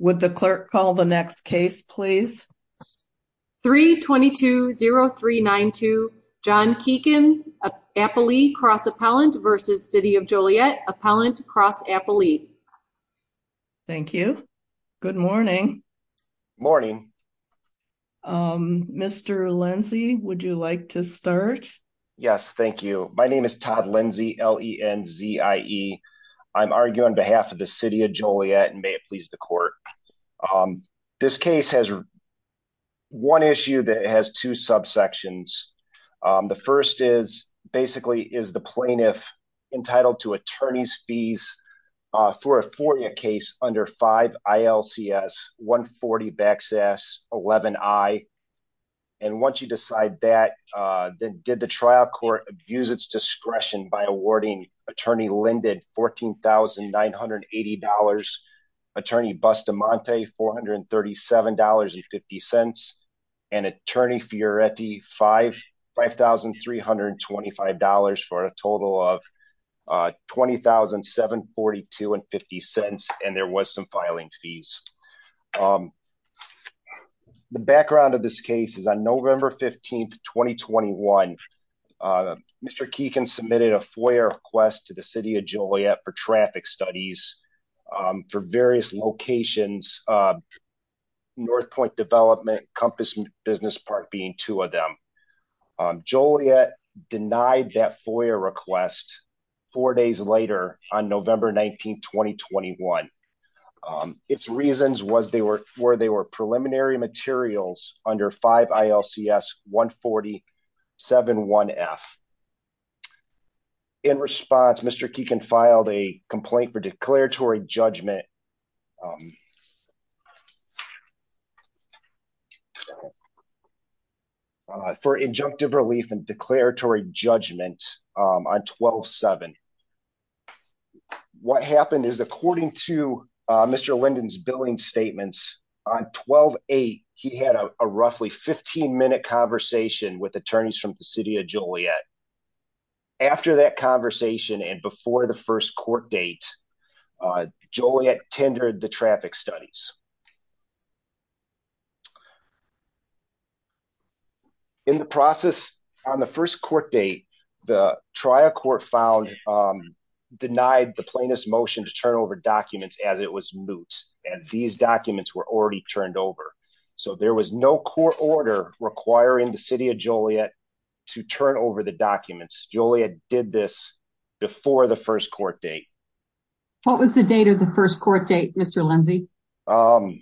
Would the clerk call the next case please? 3-2-2-0-3-9-2. John Kieken, Applee cross appellant versus City of Joliet, appellant cross Applee. Thank you. Good morning. Morning. Mr. Lindsey, would you like to start? Yes, thank you. My name is Todd Lindsey, L-E-N-Z-I-E. I'm arguing on behalf of the City of Joliet and may it please the court. This case has one issue that has two subsections. The first is basically is the plaintiff entitled to attorney's fees for a four-year case under 5 ILCS 140-11I. And once you decide that, did the trial court abuse its discretion by awarding attorney Linden $14,980, attorney Bustamante $437.50, and attorney Fioretti $5,325 for a total of $20,742.50 and there was some filing fees. The background of this case is on November 15th, 2021. Mr. Kieken submitted a FOIA request to the City of Joliet for traffic studies for various locations, North Point Development, Compass Business Park being two of them. Joliet denied that FOIA request four days later on November 19th, 2021. Its reasons were they were preliminary materials under 5 ILCS 140-71F. In response, Mr. Kieken filed a complaint for declaratory judgment for injunctive relief and declaratory judgment on 12-7. What happened is according to Mr. Linden's billing statements on 12-8, he had a roughly 15-minute conversation with attorneys from the City of Joliet. After that conversation and before the first court date, Joliet tendered the traffic studies. In the process on the first court date, the trial court found, denied the plaintiff's motion to turn over documents as it was moot and these documents were already turned over. So there was no court order requiring the City of Joliet to turn over the documents. Joliet did this before the first court date. What was the date of the court date, Mr. Lindsey? I'm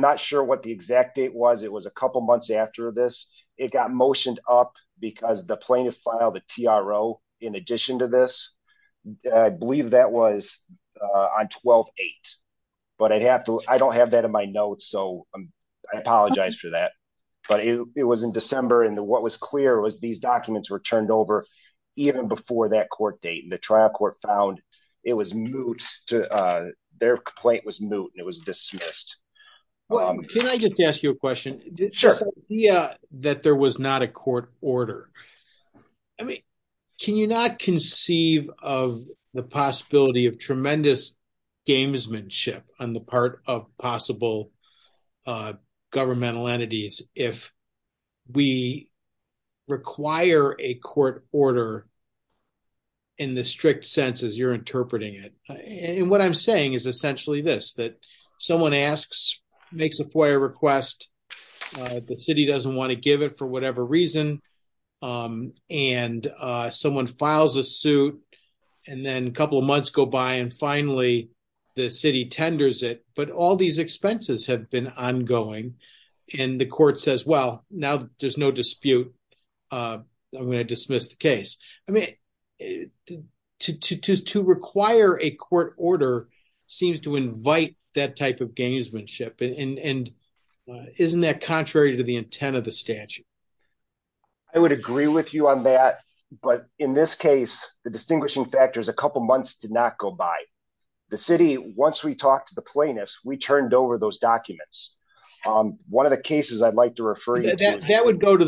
not sure what the exact date was. It was a couple months after this. It got motioned up because the plaintiff filed a TRO in addition to this. I believe that was on 12-8, but I don't have that in my notes, so I apologize for that. But it was in December and what was clear was these documents were turned over even before that court date and the trial court found it was moot. Their complaint was moot and it was dismissed. Well, can I just ask you a question? Sure. The idea that there was not a court order, I mean, can you not conceive of the possibility of tremendous gamesmanship on the part of possible governmental entities if we require a court order in the strict sense as you're interpreting it? And what I'm saying is essentially this, that someone asks, makes a FOIA request, the city doesn't want to give it for whatever reason, and someone files a suit and then a couple of months go by and finally the city tenders it, but all these expenses have been ongoing and the court says, well, now there's no dispute. I'm going to dismiss the case. I mean, to require a court order seems to invite that type of gamesmanship and isn't that contrary to the intent of the statute? I would agree with you on that, but in this case, the distinguishing factor is a couple months did not go by. The city, once we talked to the plaintiffs, we turned over those documents. One of the cases I'd like to refer you to... That would go to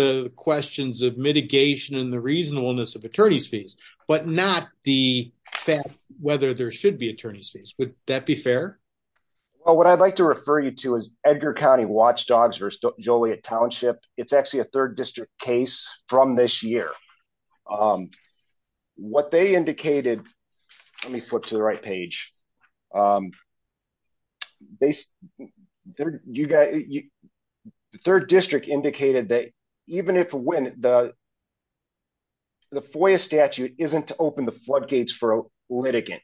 the questions of mitigation and the reasonableness of attorney's fees, but not the fact whether there should be attorney's fees. Would that be fair? Well, what I'd like to refer you to is Edgar County Watchdogs versus Let me flip to the right page. The third district indicated that even if the FOIA statute isn't to open the floodgates for a litigant,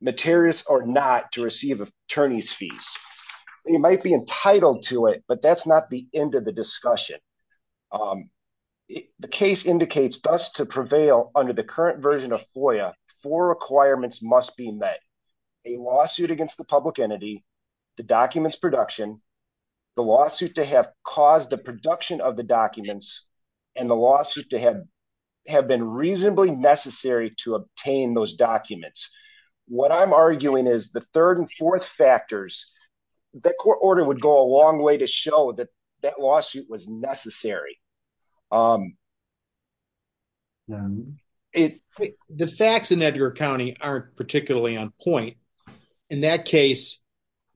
materials are not to receive attorney's fees. You might be entitled to it, but that's not the end of the discussion. The case indicates thus to prevail under the current version of FOIA, four requirements must be met. A lawsuit against the public entity, the documents production, the lawsuit to have caused the production of the documents, and the lawsuit to have been reasonably necessary to obtain those documents. What I'm arguing is the third and fourth factors, the court order would go a long way to show that that lawsuit was necessary. The facts in Edgar County aren't particularly on point. In that case,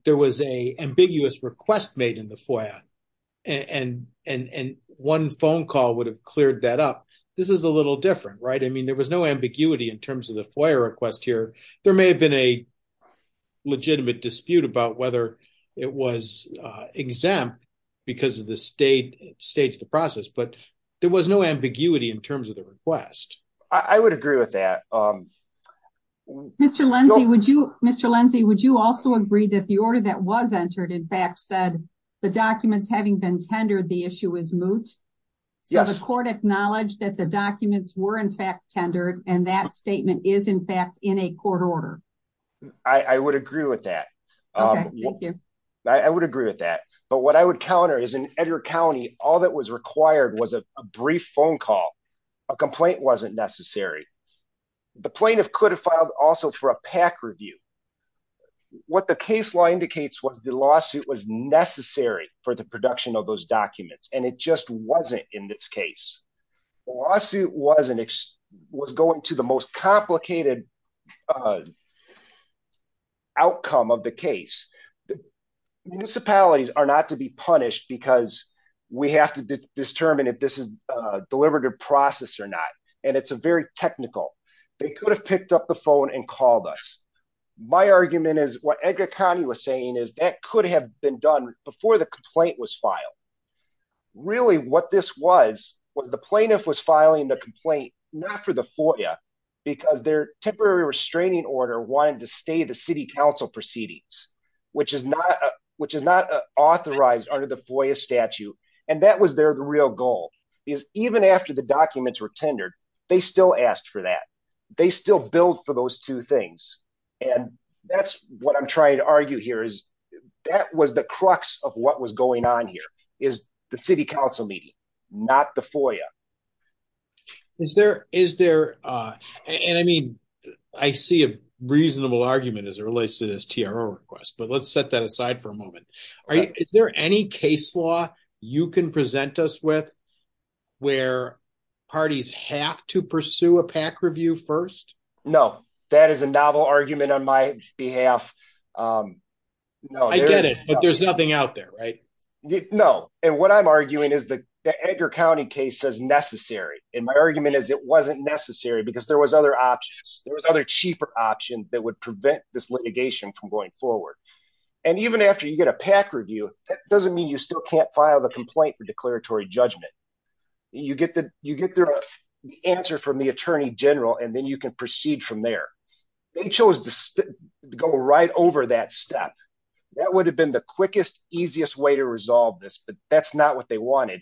there was an ambiguous request made in the FOIA and one phone call would have cleared that up. This is a little different, right? I mean, there was no ambiguity in terms of the FOIA request here. There may have been a it was exempt because of the state stage of the process, but there was no ambiguity in terms of the request. I would agree with that. Mr. Lindsey, would you also agree that the order that was entered in fact said the documents having been tendered, the issue is moot. So the court acknowledged that the documents were in fact tendered and that statement is in fact in a court order. I would agree with that. I would agree with that. But what I would counter is in Edgar County, all that was required was a brief phone call. A complaint wasn't necessary. The plaintiff could have filed also for a PAC review. What the case law indicates was the lawsuit was necessary for the production of those documents and it just wasn't in this case. The lawsuit was going to the most complicated outcome of the case. Municipalities are not to be punished because we have to determine if this is a deliberative process or not and it's a very technical. They could have picked up the phone and called us. My argument is what Edgar County was saying is that could have been done before the complaint was filed. Really what this was was the plaintiff was filing the complaint not for the FOIA because their temporary restraining order wanted to stay the city council proceedings which is not authorized under the FOIA statute and that was their real goal. Even after the documents were tendered, they still asked for that. They still billed for those two things and that's what I'm trying to argue here is that was the crux of what was going on here is the city council meeting not the FOIA. I see a reasonable argument as it relates to this TRO request but let's set that aside for a moment. Is there any case law you can present us with where parties have to pursue a PAC review first? No, that is a novel argument on my behalf. I get it but there's nothing out there, right? No, and what I'm arguing is the Edgar County case is necessary and my argument is it wasn't necessary because there were other options. There were other cheaper options that would prevent this litigation from going forward and even after you get a PAC review, that doesn't mean you still can't file the complaint for you. You get the answer from the attorney general and then you can proceed from there. They chose to go right over that step. That would have been the quickest, easiest way to resolve this but that's not what they wanted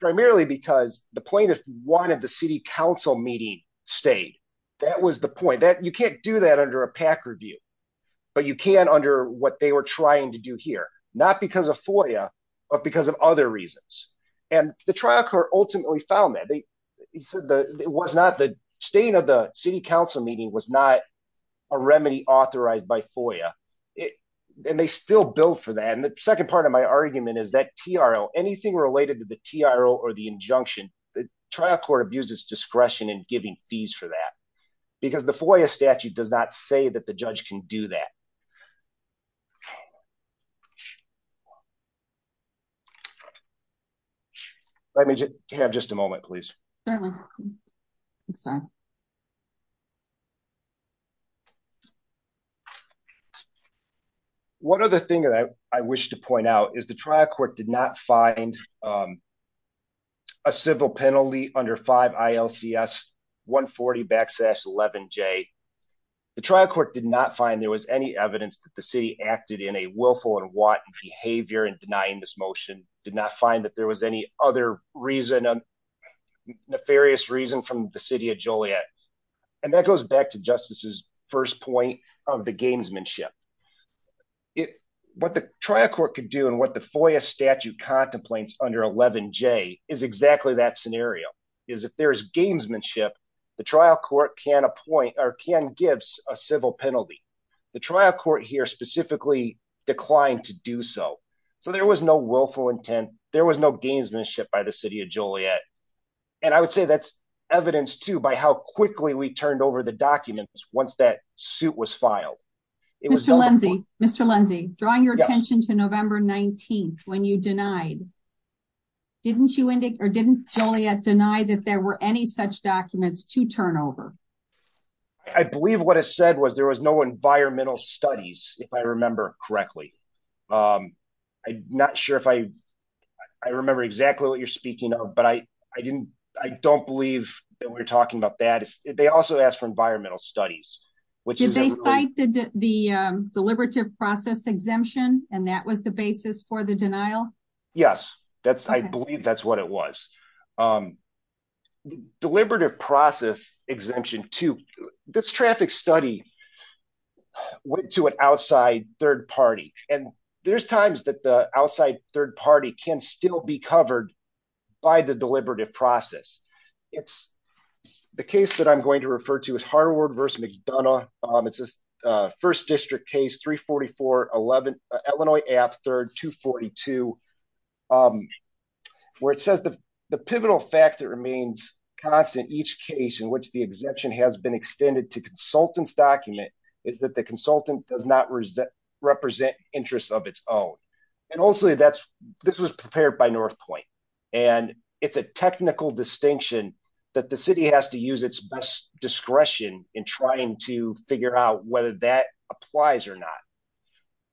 primarily because the plaintiff wanted the city council meeting stayed. That was the point that you can't do that under a PAC review but you can under what were trying to do here. Not because of FOIA but because of other reasons and the trial court ultimately found that the state of the city council meeting was not a remedy authorized by FOIA and they still billed for that and the second part of my argument is that TRO, anything related to the TRO or the injunction, the trial court abuses discretion in giving fees for that because FOIA statute does not say that the judge can do that. Let me have just a moment please. One other thing that I wish to point out is the trial court did not find um a civil penalty under 5 ILCS 140 backslash 11J. The trial court did not find there was any evidence that the city acted in a willful and want behavior in denying this motion, did not find that there was any other reason, nefarious reason from the city of Joliet and that goes back to justice's first point of the gamesmanship. What the trial court could do and what the FOIA statute contemplates under 11J is exactly that scenario is if there's gamesmanship the trial court can appoint or can give a civil penalty. The trial court here specifically declined to do so so there was no willful intent, there was no gamesmanship by the city of Joliet and I would say that's evidence too by how quickly we turned over the documents once that suit was filed. Mr. Lindsey, Mr. Lindsey, drawing your attention to November 19th when you denied, didn't you indicate or didn't Joliet deny that there were any such documents to turn over? I believe what I said was there was no environmental studies if I remember correctly. I'm not sure if I remember exactly what you're speaking of but I didn't, I don't believe that we're talking about that. They also asked for environmental studies. Did they cite the deliberative process exemption and that was the basis for the denial? Yes, I believe that's what it was. Deliberative process exemption too, this traffic study went to an outside third party and there's times that the outside third party can still be covered by the deliberative process. It's the case that I'm going to refer to is Harward versus McDonough. It's a first district case 344 11 Illinois Ave 3rd 242 where it says the pivotal fact that remains constant each case in which the exemption has been extended to consultant's document is that the consultant does not represent interest of its own and also that's this was prepared by North Point and it's a technical distinction that the city has to use its best discretion in trying to figure out whether that applies or not.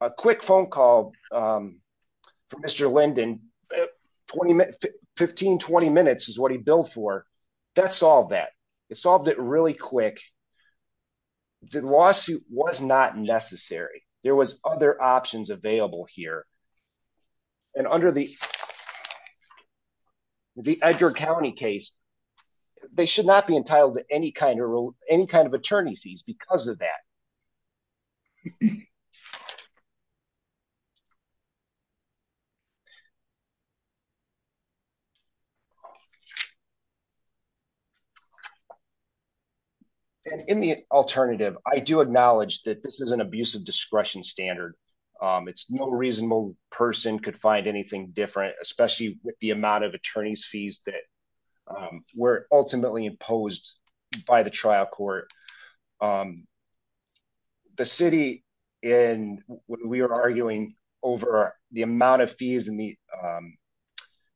A quick phone call from Mr. Linden, 15-20 minutes is what he billed for. That solved that. It solved it really quick. The lawsuit was not necessary. There was other county case, they should not be entitled to any kind of rule, any kind of attorney fees because of that and in the alternative, I do acknowledge that this is an abusive discretion standard. It's no reasonable person could find anything different, especially with the amount of attorneys fees that were ultimately imposed by the trial court. The city and we were arguing over the amount of fees and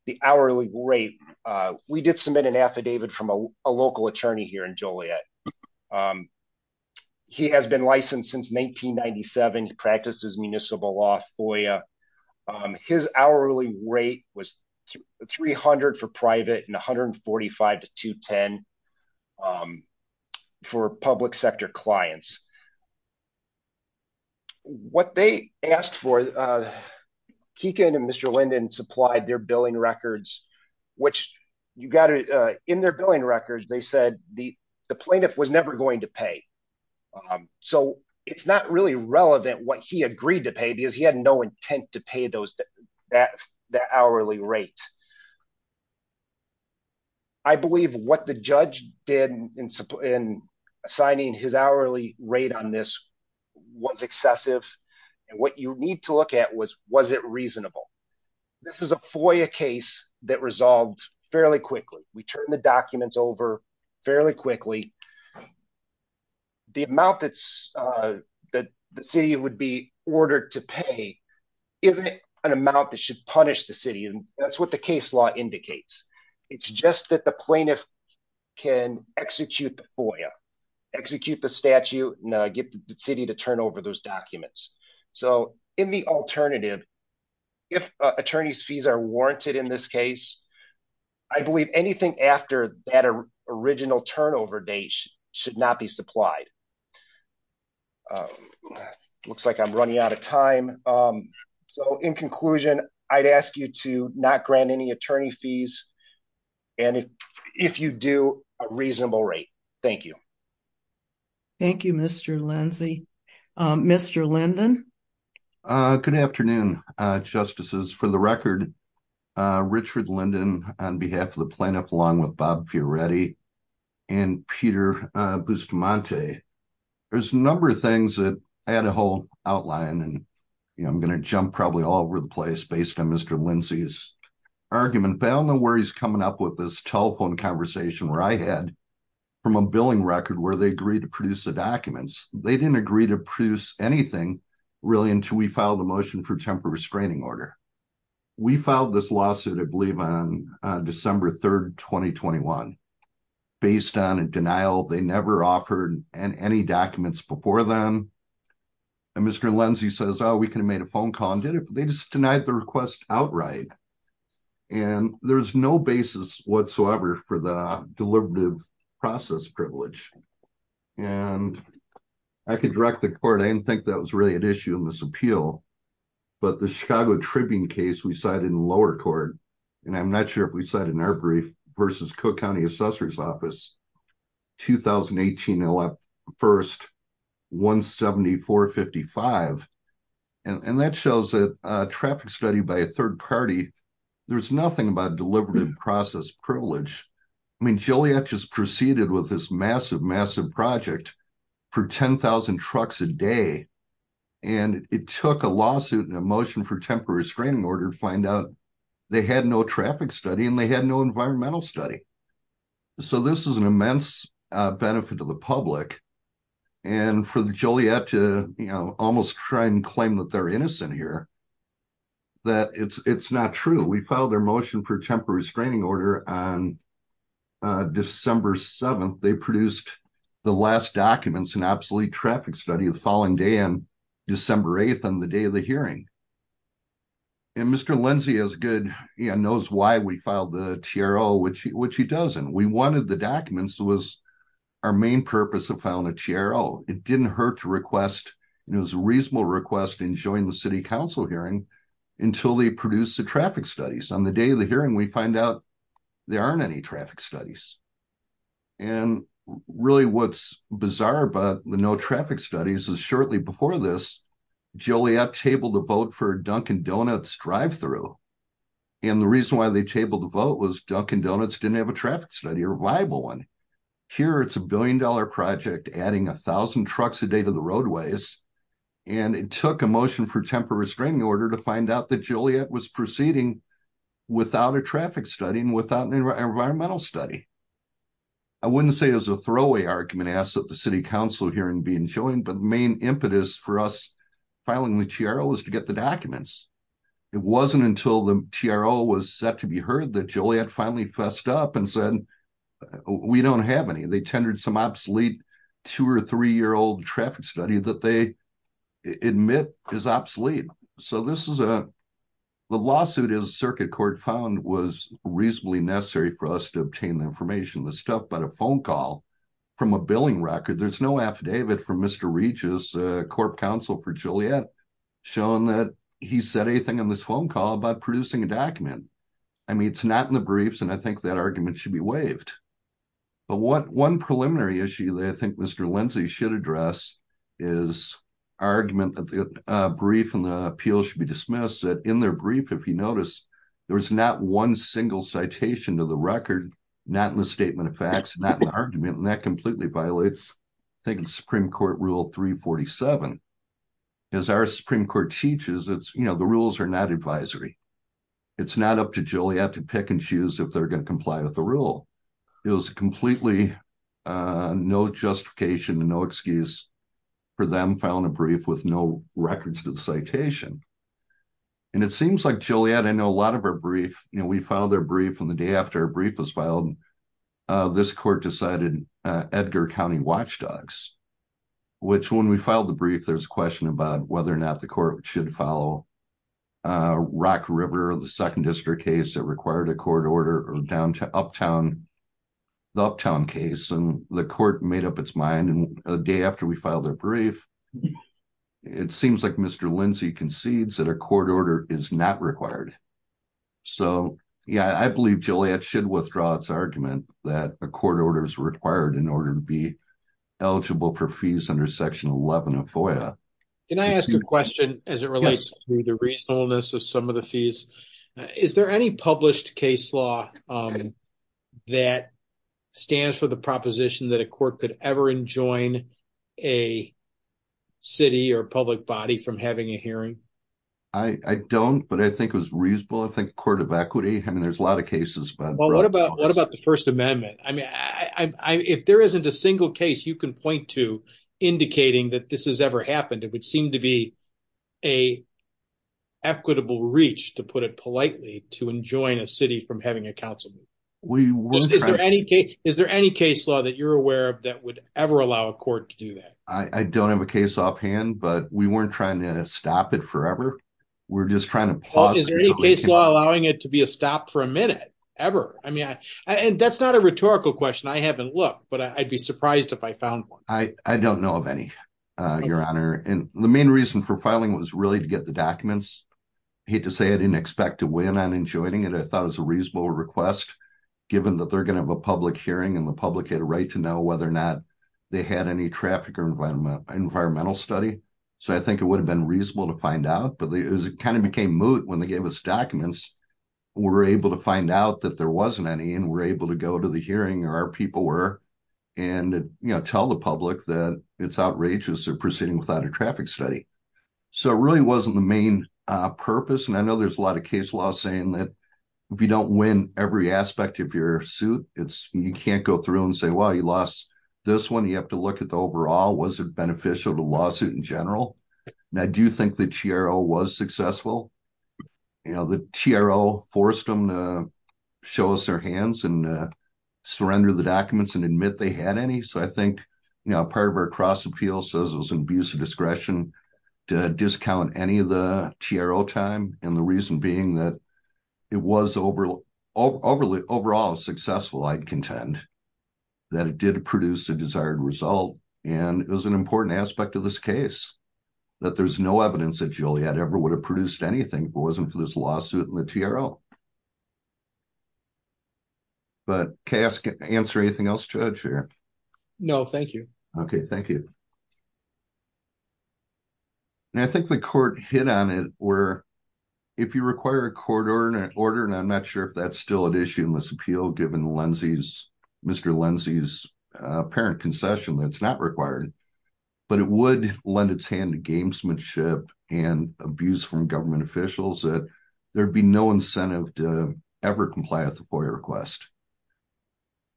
the hourly rate, we did submit an affidavit from a local attorney here in Joliet. He has been licensed since 1997, practices municipal law FOIA. His hourly rate was 300 for private and 145 to 210 for public sector clients. What they asked for, Keegan and Mr. Linden supplied their billing records, they said the plaintiff was never going to pay. It's not really relevant what he agreed to pay because he had no intent to pay that hourly rate. I believe what the judge did in assigning his hourly rate on this was excessive and what you need to look at was, was it reasonable? This is a FOIA case that resolved fairly quickly. We turned the documents over fairly quickly. The amount that the city would be ordered to pay isn't an amount that should punish the city and that's what the case law indicates. It's just that the plaintiff can execute the FOIA, execute the statute and get the city to turn over those after that original turnover date should not be supplied. Looks like I'm running out of time. In conclusion, I'd ask you to not grant any attorney fees and if you do, a reasonable rate. Thank you. Thank you, Mr. Lindsay. Mr. Linden. Good afternoon, Justices. For the record, Richard Linden on behalf of the plaintiff, along with Bob Fioretti and Peter Bustamante. There's a number of things that I had a whole outline and I'm going to jump probably all over the place based on Mr. Lindsay's argument. But I don't know where he's coming up with this telephone conversation where I had from a billing record where they agreed to produce the documents. They didn't agree to anything really until we filed a motion for temporary screening order. We filed this lawsuit, I believe, on December 3rd, 2021 based on a denial. They never offered any documents before then. And Mr. Lindsay says, oh, we could have made a phone call and did it. They just denied the request outright. And there's no basis whatsoever for the deliberative process privilege. And I can direct the court. I didn't think that was really an issue in this appeal. But the Chicago Tribune case we cited in lower court, and I'm not sure if we cited in our brief, versus Cook County Assessor's Office, 2018, 1st, 17455. And that shows that a traffic study by a third party, there's nothing about deliberative process privilege. I mean, Joliet just proceeded with this massive, massive project for 10,000 trucks a day. And it took a lawsuit and a motion for temporary screening order to find out they had no traffic study and they had no environmental study. So this is an immense benefit to the public. And for the Joliet to almost try and claim that they're innocent here, that it's not true. We filed their motion for temporary screening order on December 7th. They produced the last documents in absolute traffic study the following day and December 8th on the day of the hearing. And Mr. Lindsey is good, he knows why we filed the TRO, which he doesn't. We wanted the documents was our main purpose of filing a TRO. It didn't hurt to request, it was a reasonable request in joining the city council hearing until they produced the traffic studies. On the day of the hearing, we find out there aren't any traffic studies. And really what's bizarre about the no traffic studies is shortly before this, Joliet tabled a vote for a Dunkin Donuts drive-thru. And the reason why they tabled the vote was Dunkin Donuts didn't have a traffic study or viable one. Here it's a billion dollar project adding a thousand trucks a day to the roadways. And it took a motion for temporary screening order to find out that it was proceeding without a traffic study and without an environmental study. I wouldn't say it was a throwaway argument asked that the city council hearing be enjoined, but the main impetus for us filing the TRO was to get the documents. It wasn't until the TRO was set to be heard that Joliet finally fessed up and said we don't have any. They tendered some obsolete two or three-year-old traffic study that they admit is obsolete. So this is a, the lawsuit is circuit court found was reasonably necessary for us to obtain the information, the stuff, but a phone call from a billing record, there's no affidavit from Mr. Regis, a corp council for Joliet, showing that he said anything on this phone call about producing a document. I mean it's not in the briefs and I think that argument should be waived. But what one preliminary issue that I should address is argument that the brief and the appeal should be dismissed that in their brief, if you notice, there's not one single citation to the record, not in the statement of facts, not in the argument, and that completely violates I think the Supreme Court rule 347. As our Supreme Court teaches, it's, you know, the rules are not advisory. It's not up to Joliet to pick and choose if they're going to comply with the rule. It was completely no justification and no excuse for them filing a brief with no records to the citation. And it seems like Joliet, I know a lot of our brief, you know, we filed their brief and the day after our brief was filed, this court decided Edgar County Watchdogs, which when we filed the brief, there's a question about whether or not the court should follow Rock River, the Uptown case and the court made up its mind and a day after we filed their brief, it seems like Mr. Lindsey concedes that a court order is not required. So yeah, I believe Joliet should withdraw its argument that a court order is required in order to be eligible for fees under section 11 of FOIA. Can I ask a question as it relates to the reasonableness of some of the fees? Is there any published case law that stands for the proposition that a court could ever enjoin a city or public body from having a hearing? I don't, but I think it was reasonable. I think Court of Equity, I mean, there's a lot of cases. Well, what about the First Amendment? I mean, if there isn't a single case you can point to indicating that this has ever happened, it would seem to be a equitable reach, to put it politely, to enjoin a city from having a council. Is there any case law that you're aware of that would ever allow a court to do that? I don't have a case offhand, but we weren't trying to stop it forever. We're just trying to pause. Is there any case law allowing it to be a stop for a minute ever? I mean, and that's not a rhetorical question. I haven't looked, but I'd be surprised if I found one. I don't know of any, Your Honor, and the main reason for filing was really to get the documents. I hate to say I didn't expect to win on enjoining it. I thought it was a reasonable request, given that they're going to have a public hearing and the public had a right to know whether or not they had any traffic or environmental study. So I think it would have been reasonable to find out, but it kind of became moot when they gave us documents. We were able to find out that there was an outrageous proceeding without a traffic study. So it really wasn't the main purpose, and I know there's a lot of case law saying that if you don't win every aspect of your suit, you can't go through and say, well, you lost this one. You have to look at the overall. Was it beneficial to the lawsuit in general? I do think the TRO was successful. The TRO forced them to show us their hands and surrender the documents and admit they had any. So I think, you know, part of our cross appeal says it was an abuse of discretion to discount any of the TRO time, and the reason being that it was overall successful, I'd contend, that it did produce the desired result. And it was an important aspect of this case that there's no evidence that Juliet ever would have produced anything if it wasn't for this lawsuit and the TRO. But can I answer anything else, Judge? No, thank you. Okay, thank you. And I think the court hit on it where if you require a court order, and I'm not sure if that's still at issue in this appeal given Mr. Lindsey's apparent concession that it's not required, but it would lend its hand to gamesmanship and abuse from government officials that there'd be no incentive to ever comply with the FOIA request.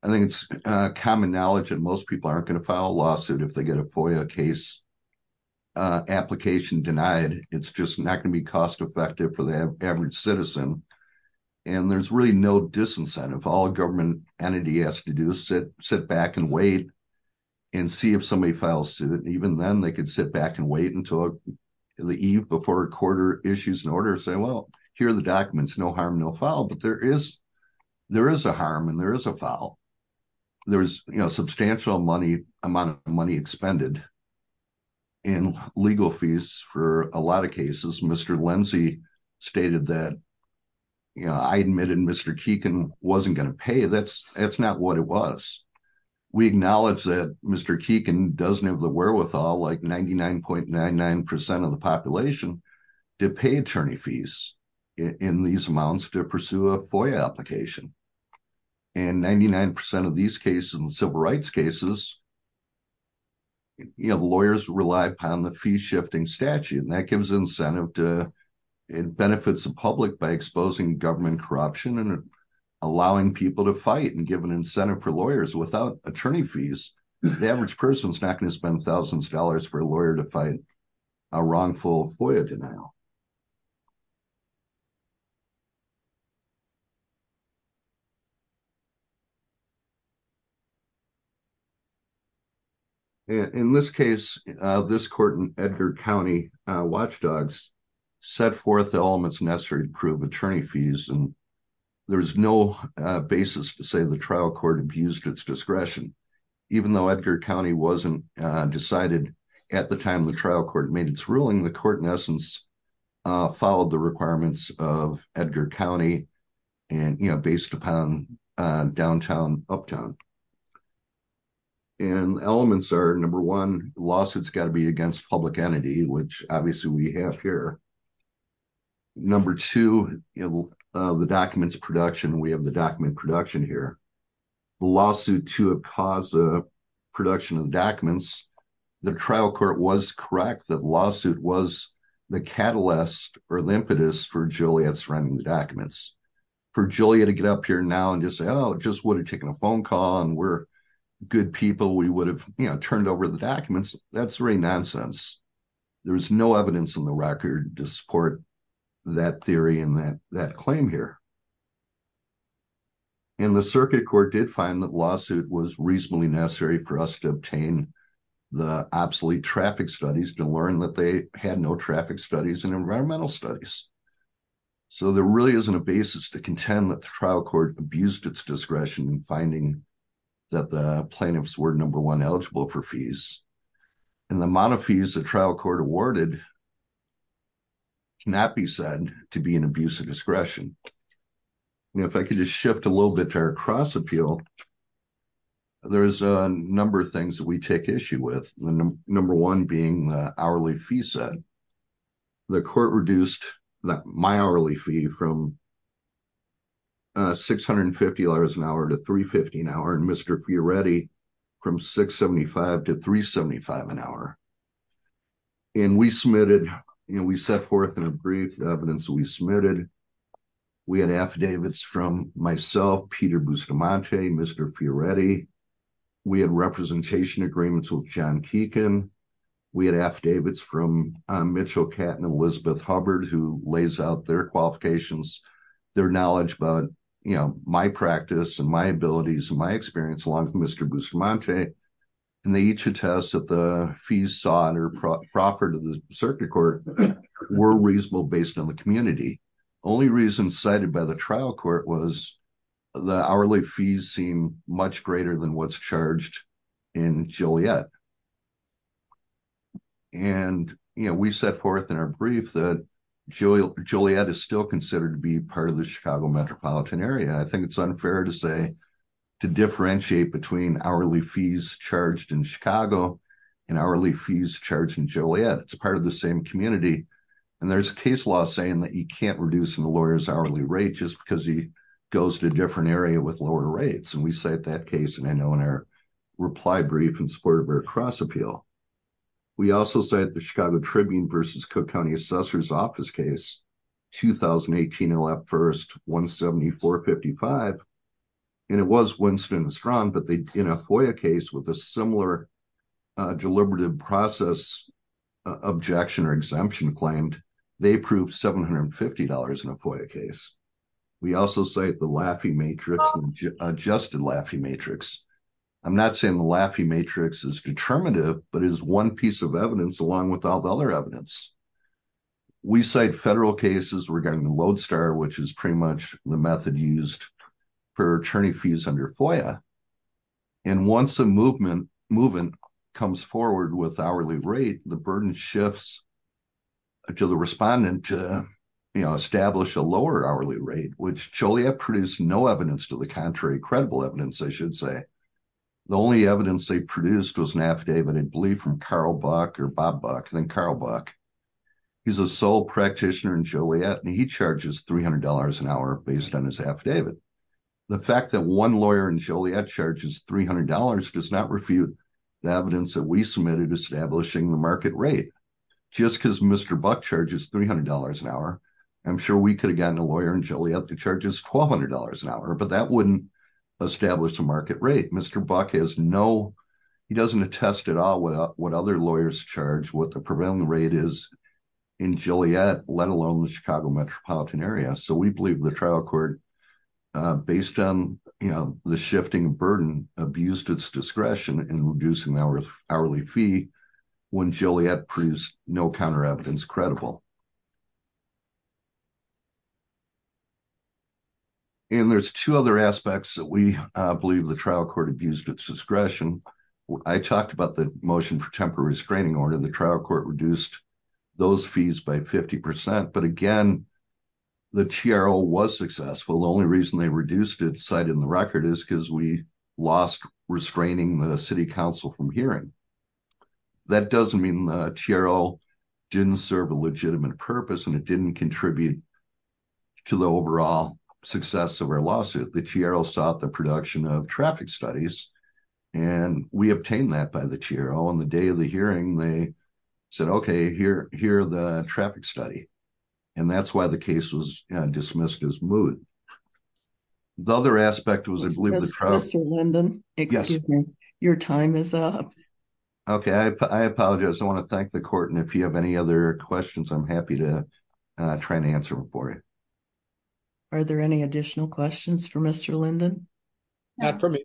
I think it's common knowledge that most people aren't going to file a lawsuit if they get a FOIA case application denied. It's just not going to be cost effective for the average citizen, and there's really no disincentive. All government entity has to do is sit back and wait and see if somebody files suit. Even then, they could sit back and wait until the eve before a court issues an order and say, well, here are the documents, no harm, no foul. But there is a harm and there is a foul. There's a substantial amount of money expended in legal fees for a lot of cases. Mr. Lindsey stated that I admitted Mr. Keegan wasn't going to pay. That's not what it was. We acknowledge that Mr. Keegan doesn't have the 99.99% of the population to pay attorney fees in these amounts to pursue a FOIA application. In 99% of these cases and civil rights cases, lawyers rely upon the fee-shifting statute, and that gives incentive. It benefits the public by exposing government corruption and allowing people to fight and give an incentive for lawyers without attorney fees. The average person is not going to spend thousands of dollars for a lawyer to fight a wrongful FOIA denial. In this case, this court in Edgar County Watchdogs set forth the elements necessary to improve attorney fees, and there's no basis to say the trial court abused its discretion. Even though Edgar County wasn't decided at the time the trial court made its ruling, the court in essence followed the requirements of Edgar County based upon downtown uptown. Elements are, number one, the lawsuit's got to be against public entity, which obviously we have here. Number two, the documents production. We have the document production here. The lawsuit caused the production of the documents. The trial court was correct that the lawsuit was the catalyst or the impetus for Joliet surrounding the documents. For Joliet to get up here now and just say, oh, it just would have taken a phone call and we're good people, we would have turned over the documents, that's really nonsense. There's no evidence in the record to support that theory and that claim here. The circuit court did find that the lawsuit was reasonably necessary for us to obtain the obsolete traffic studies to learn that they had no traffic studies in environmental studies. There really isn't a basis to contend that the trial court abused its discretion in finding that the plaintiffs were, number one, eligible for fees. The amount of fees the trial court awarded cannot be said to be an abuse of discretion. If I could just shift a little bit to our cross-appeal, there's a number of things that we take issue with, number one being the hourly fee set. The court reduced my hourly fee from $650 an hour to $350 an hour and Mr. Fioretti from $675 to $375 an hour. We submitted, we set forth in a brief the evidence we submitted. We had affidavits from myself, Peter Bustamante, Mr. Fioretti. We had representation agreements with John Keegan. We had affidavits from Mitchell Katten and Elizabeth Hubbard who lays out their qualifications, their knowledge about my practice and my abilities and my experience. They each attest that the fees sought or proffered to the circuit court were reasonable based on the community. The only reason cited by the trial court was the hourly fees seem much greater than what's charged in Juliet. We set forth in our brief that Juliet is still considered to be part of the Chicago metropolitan area. I think it's unfair to say to differentiate between hourly fees charged in Chicago and hourly fees charged in Juliet. It's a part of the same community and there's a case law saying that you can't reduce a lawyer's hourly rate just because he goes to a different area with lower rates and we cite that case and I know in our reply brief in support of our cross appeal. We also cite the Chicago Tribune versus Cook County Assessor's 55 and it was Winston and Strong but they in a FOIA case with a similar deliberative process objection or exemption claimed they approved $750 in a FOIA case. We also cite the Laffey Matrix and Adjusted Laffey Matrix. I'm not saying the Laffey Matrix is determinative but is one piece of evidence along with all the other evidence. We cite federal cases regarding the Lodestar which is pretty much the method used for attorney fees under FOIA and once a movement comes forward with hourly rate the burden shifts to the respondent to you know establish a lower hourly rate which Juliet produced no evidence to the contrary credible evidence I should say. The only evidence they produced was an affidavit I believe from Carl Buck or Bob Buck then Carl Buck. He's a sole practitioner in Joliet and he charges $300 an hour based on his affidavit. The fact that one lawyer in Joliet charges $300 does not refute the evidence that we submitted establishing the market rate. Just because Mr. Buck charges $300 an hour I'm sure we could have gotten a lawyer in Joliet that charges $1,200 an hour but that established a market rate. Mr. Buck has no he doesn't attest at all what other lawyers charge what the prevailing rate is in Joliet let alone the Chicago metropolitan area so we believe the trial court based on you know the shifting burden abused its discretion in reducing our hourly fee when Joliet proves no counter evidence credible. And there's two other aspects that we believe the trial court abused its discretion. I talked about the motion for temporary restraining order the trial court reduced those fees by 50 percent but again the TRO was successful. The only reason they reduced its site in the record is because we lost restraining the city council from hearing. That doesn't mean the TRO didn't serve a legitimate purpose and it didn't contribute to the overall success of our lawsuit. The TRO sought the production of traffic studies and we obtained that by the TRO on the day of the hearing they said okay here here the traffic study and that's why the case was dismissed as moved. The other aspect was I believe Mr. Linden excuse me your time is up. Okay I apologize I want to I'm happy to try and answer them for you. Are there any additional questions for Mr. Linden? Not for me.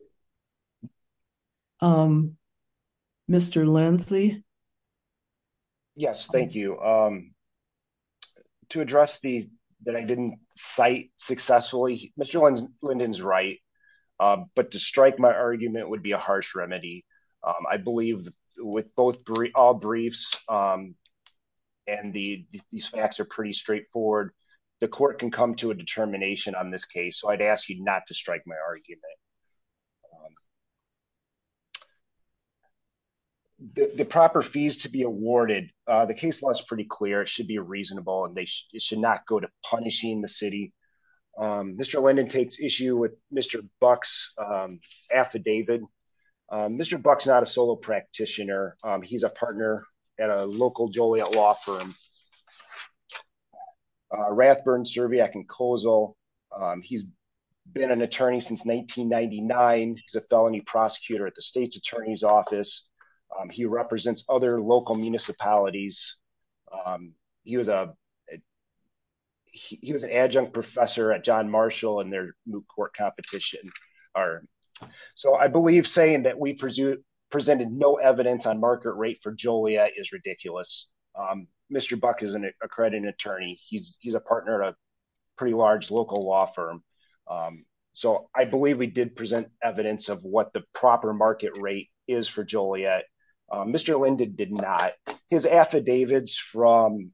Mr. Lindsay? Yes thank you. To address the that I didn't cite successfully Mr. Linden's right but to strike my argument would be a harsh remedy. I believe with both all briefs and the these facts are pretty straightforward the court can come to a determination on this case so I'd ask you not to strike my argument. The proper fees to be awarded the case law is pretty clear it should be reasonable and they should not go to punishing the city. Mr. Linden takes issue with Mr. Buck's affidavit. Mr. Buck's not a solo practitioner he's a partner at a local Joliet law firm. Rathburn, Serviac and Kozel he's been an attorney since 1999 he's a felony prosecutor at the state's attorney's office. He represents other local municipalities. He was a he was an adjunct professor at John Marshall and their moot court competition are so I believe saying that we presented no evidence on market rate for Joliet is ridiculous. Mr. Buck is an accredited attorney he's a partner at a pretty large local law firm so I believe we did present evidence of what the proper market rate is for Joliet. Mr. Linden did not his affidavits from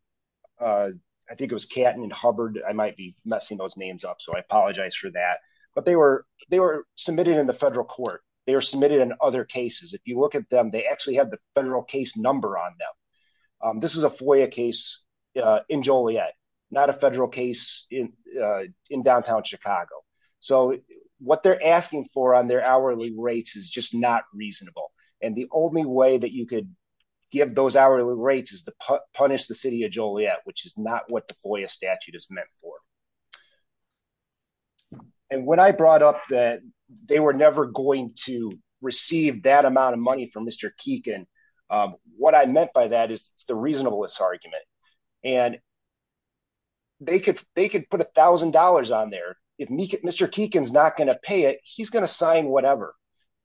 I think it was Catton and Hubbard I might be messing those names up so I apologize for that but they were they were in other cases if you look at them they actually have the federal case number on them. This is a FOIA case in Joliet not a federal case in in downtown Chicago so what they're asking for on their hourly rates is just not reasonable and the only way that you could give those hourly rates is to punish the city of Joliet which is not what the FOIA statute is meant for. And when I brought up that they were never going to receive that amount of money from Mr. Keekin what I meant by that is it's the reasonablest argument and they could they could put a thousand dollars on there if Mr. Keekin's not going to pay it he's going to sign whatever.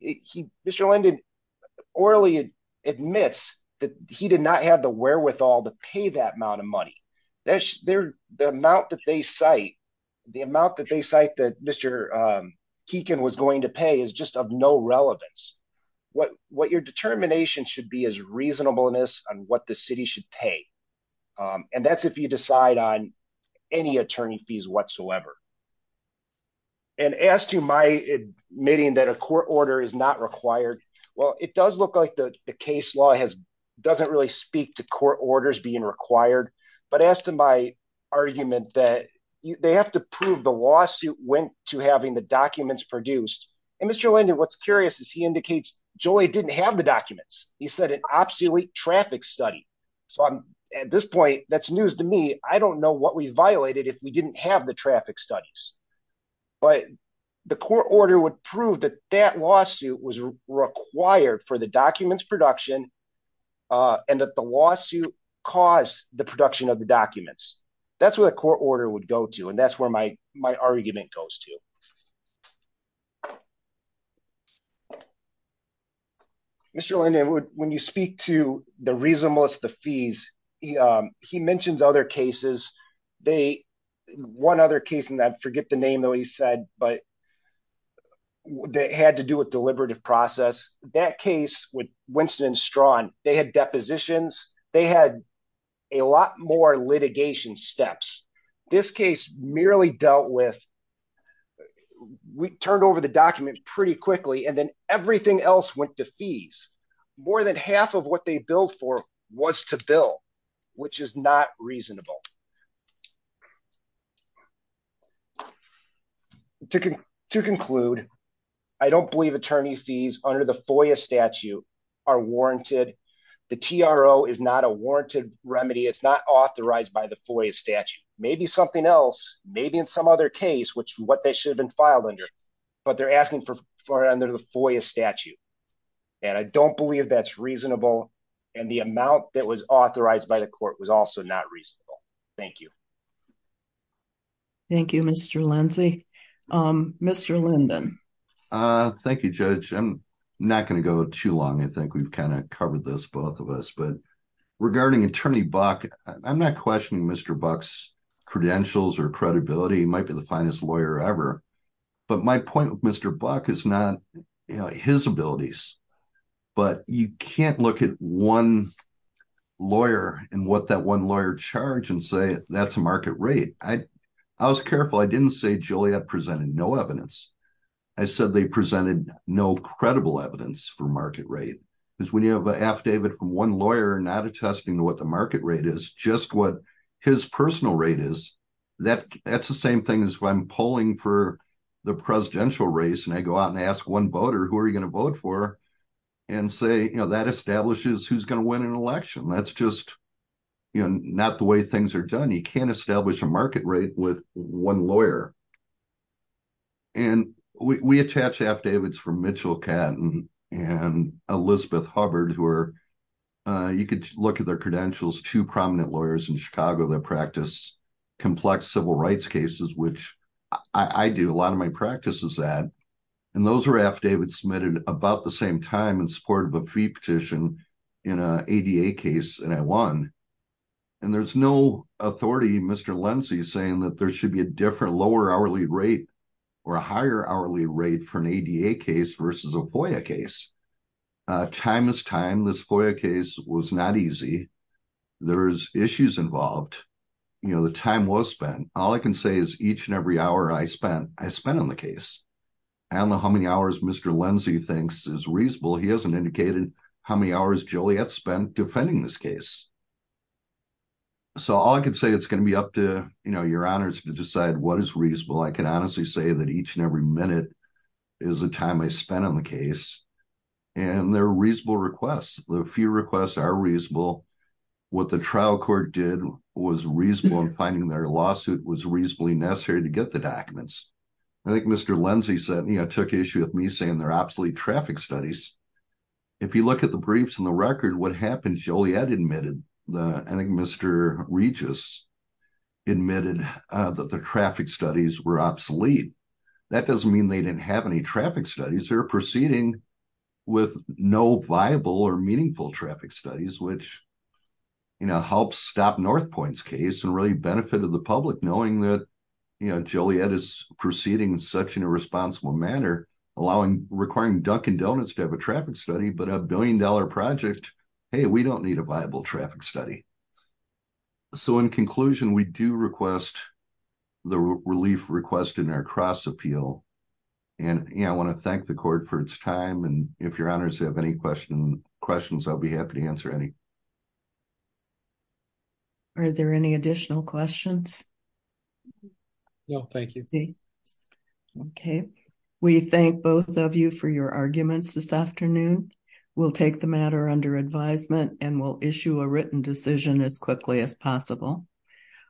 Mr. Linden orally admits that he did not have the wherewithal to pay that amount of money. That's their the amount that they cite the amount that they cite that Mr. Keekin was going to pay is just of no relevance what what your determination should be is reasonableness on what the city should pay and that's if you decide on any attorney fees whatsoever. And as to my admitting that a court order is not required well it does look like the the case law has doesn't really speak to court orders being required but as to my argument that they have to prove the lawsuit went to having the documents produced and Mr. Linden what's curious is he indicates Joliet didn't have the documents he said an obsolete traffic study so I'm at this point that's news to me I don't know what we violated if we didn't have the traffic studies but the court order would prove that that lawsuit was required for the documents production and that the lawsuit caused the production of the documents that's what the court order would go to and that's where my my argument goes to Mr. Linden would when you speak to the reasonableness of the fees he mentions other cases they one other case and I forget the name though he said but that had to do with deliberative process that case with Winston and Strawn they had depositions they had a lot more litigation steps this case merely dealt with we turned over the document pretty quickly and then everything else went to fees more than half of what they billed for was to bill which is not reasonable to conclude I don't believe attorney fees under the FOIA statute are warranted the TRO is not a warranted remedy it's not authorized by the FOIA statute maybe something else maybe in some other case which what they should have been filed under but they're asking for under the FOIA statute and I don't believe that's reasonable and the amount that was authorized by the court was also not reasonable thank you thank you Mr. Lindsay Mr. Linden thank you judge I'm not going to go too long I think we've kind of covered this both of us but regarding attorney Buck I'm not questioning Mr. Buck's credentials or credibility he might be the finest lawyer ever but my point Mr. Buck is not you know his abilities but you can't look at one lawyer and what that one lawyer charge and say that's a market rate I was careful I didn't say Juliet presented no evidence I said they presented no credible evidence for market rate because when you have an affidavit from one lawyer not attesting to what the market rate is just what his personal rate is that that's same thing as if I'm polling for the presidential race and I go out and ask one voter who are you going to vote for and say you know that establishes who's going to win an election that's just you know not the way things are done you can't establish a market rate with one lawyer and we attach affidavits from Mitchell Catton and Elizabeth Hubbard who are you could look at two prominent lawyers in Chicago that practice complex civil rights cases which I do a lot of my practice is that and those are affidavits submitted about the same time in support of a fee petition in a ADA case and I won and there's no authority Mr. Lindsey saying that there should be a different lower hourly rate or a higher hourly rate for an ADA case versus a FOIA case time is time this FOIA case was not easy there is issues involved you know the time was spent all I can say is each and every hour I spent I spent on the case I don't know how many hours Mr. Lindsey thinks is reasonable he hasn't indicated how many hours Joliet spent defending this case so all I can say it's going to be up to you know your honors to decide what is reasonable I can honestly say that each and every minute is the time I spent on the case and they're reasonable requests the few requests are reasonable what the trial court did was reasonable in finding their lawsuit was reasonably necessary to get the documents I think Mr. Lindsey said you know took issue with me saying they're obsolete traffic studies if you look at the briefs and the record what happened Joliet admitted the I think Mr. Regis admitted that the traffic studies were obsolete that doesn't mean they didn't have any traffic studies they're proceeding with no viable or meaningful traffic studies which you know helps stop North Point's case and really benefited the public knowing that you know Joliet is proceeding in such an irresponsible manner allowing requiring Dunkin Donuts to have a traffic study but a billion dollar project hey we don't need a viable traffic study so in conclusion we do request the relief request in our cross appeal and yeah I want to thank the court for its time and if your honors have any question questions I'll be happy to answer any are there any additional questions no thank you okay we thank both of you for your arguments this afternoon we'll take the matter under advisement and we'll issue a written decision as quickly as possible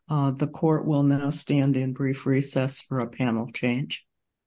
the court will now stand in brief recess for a panel change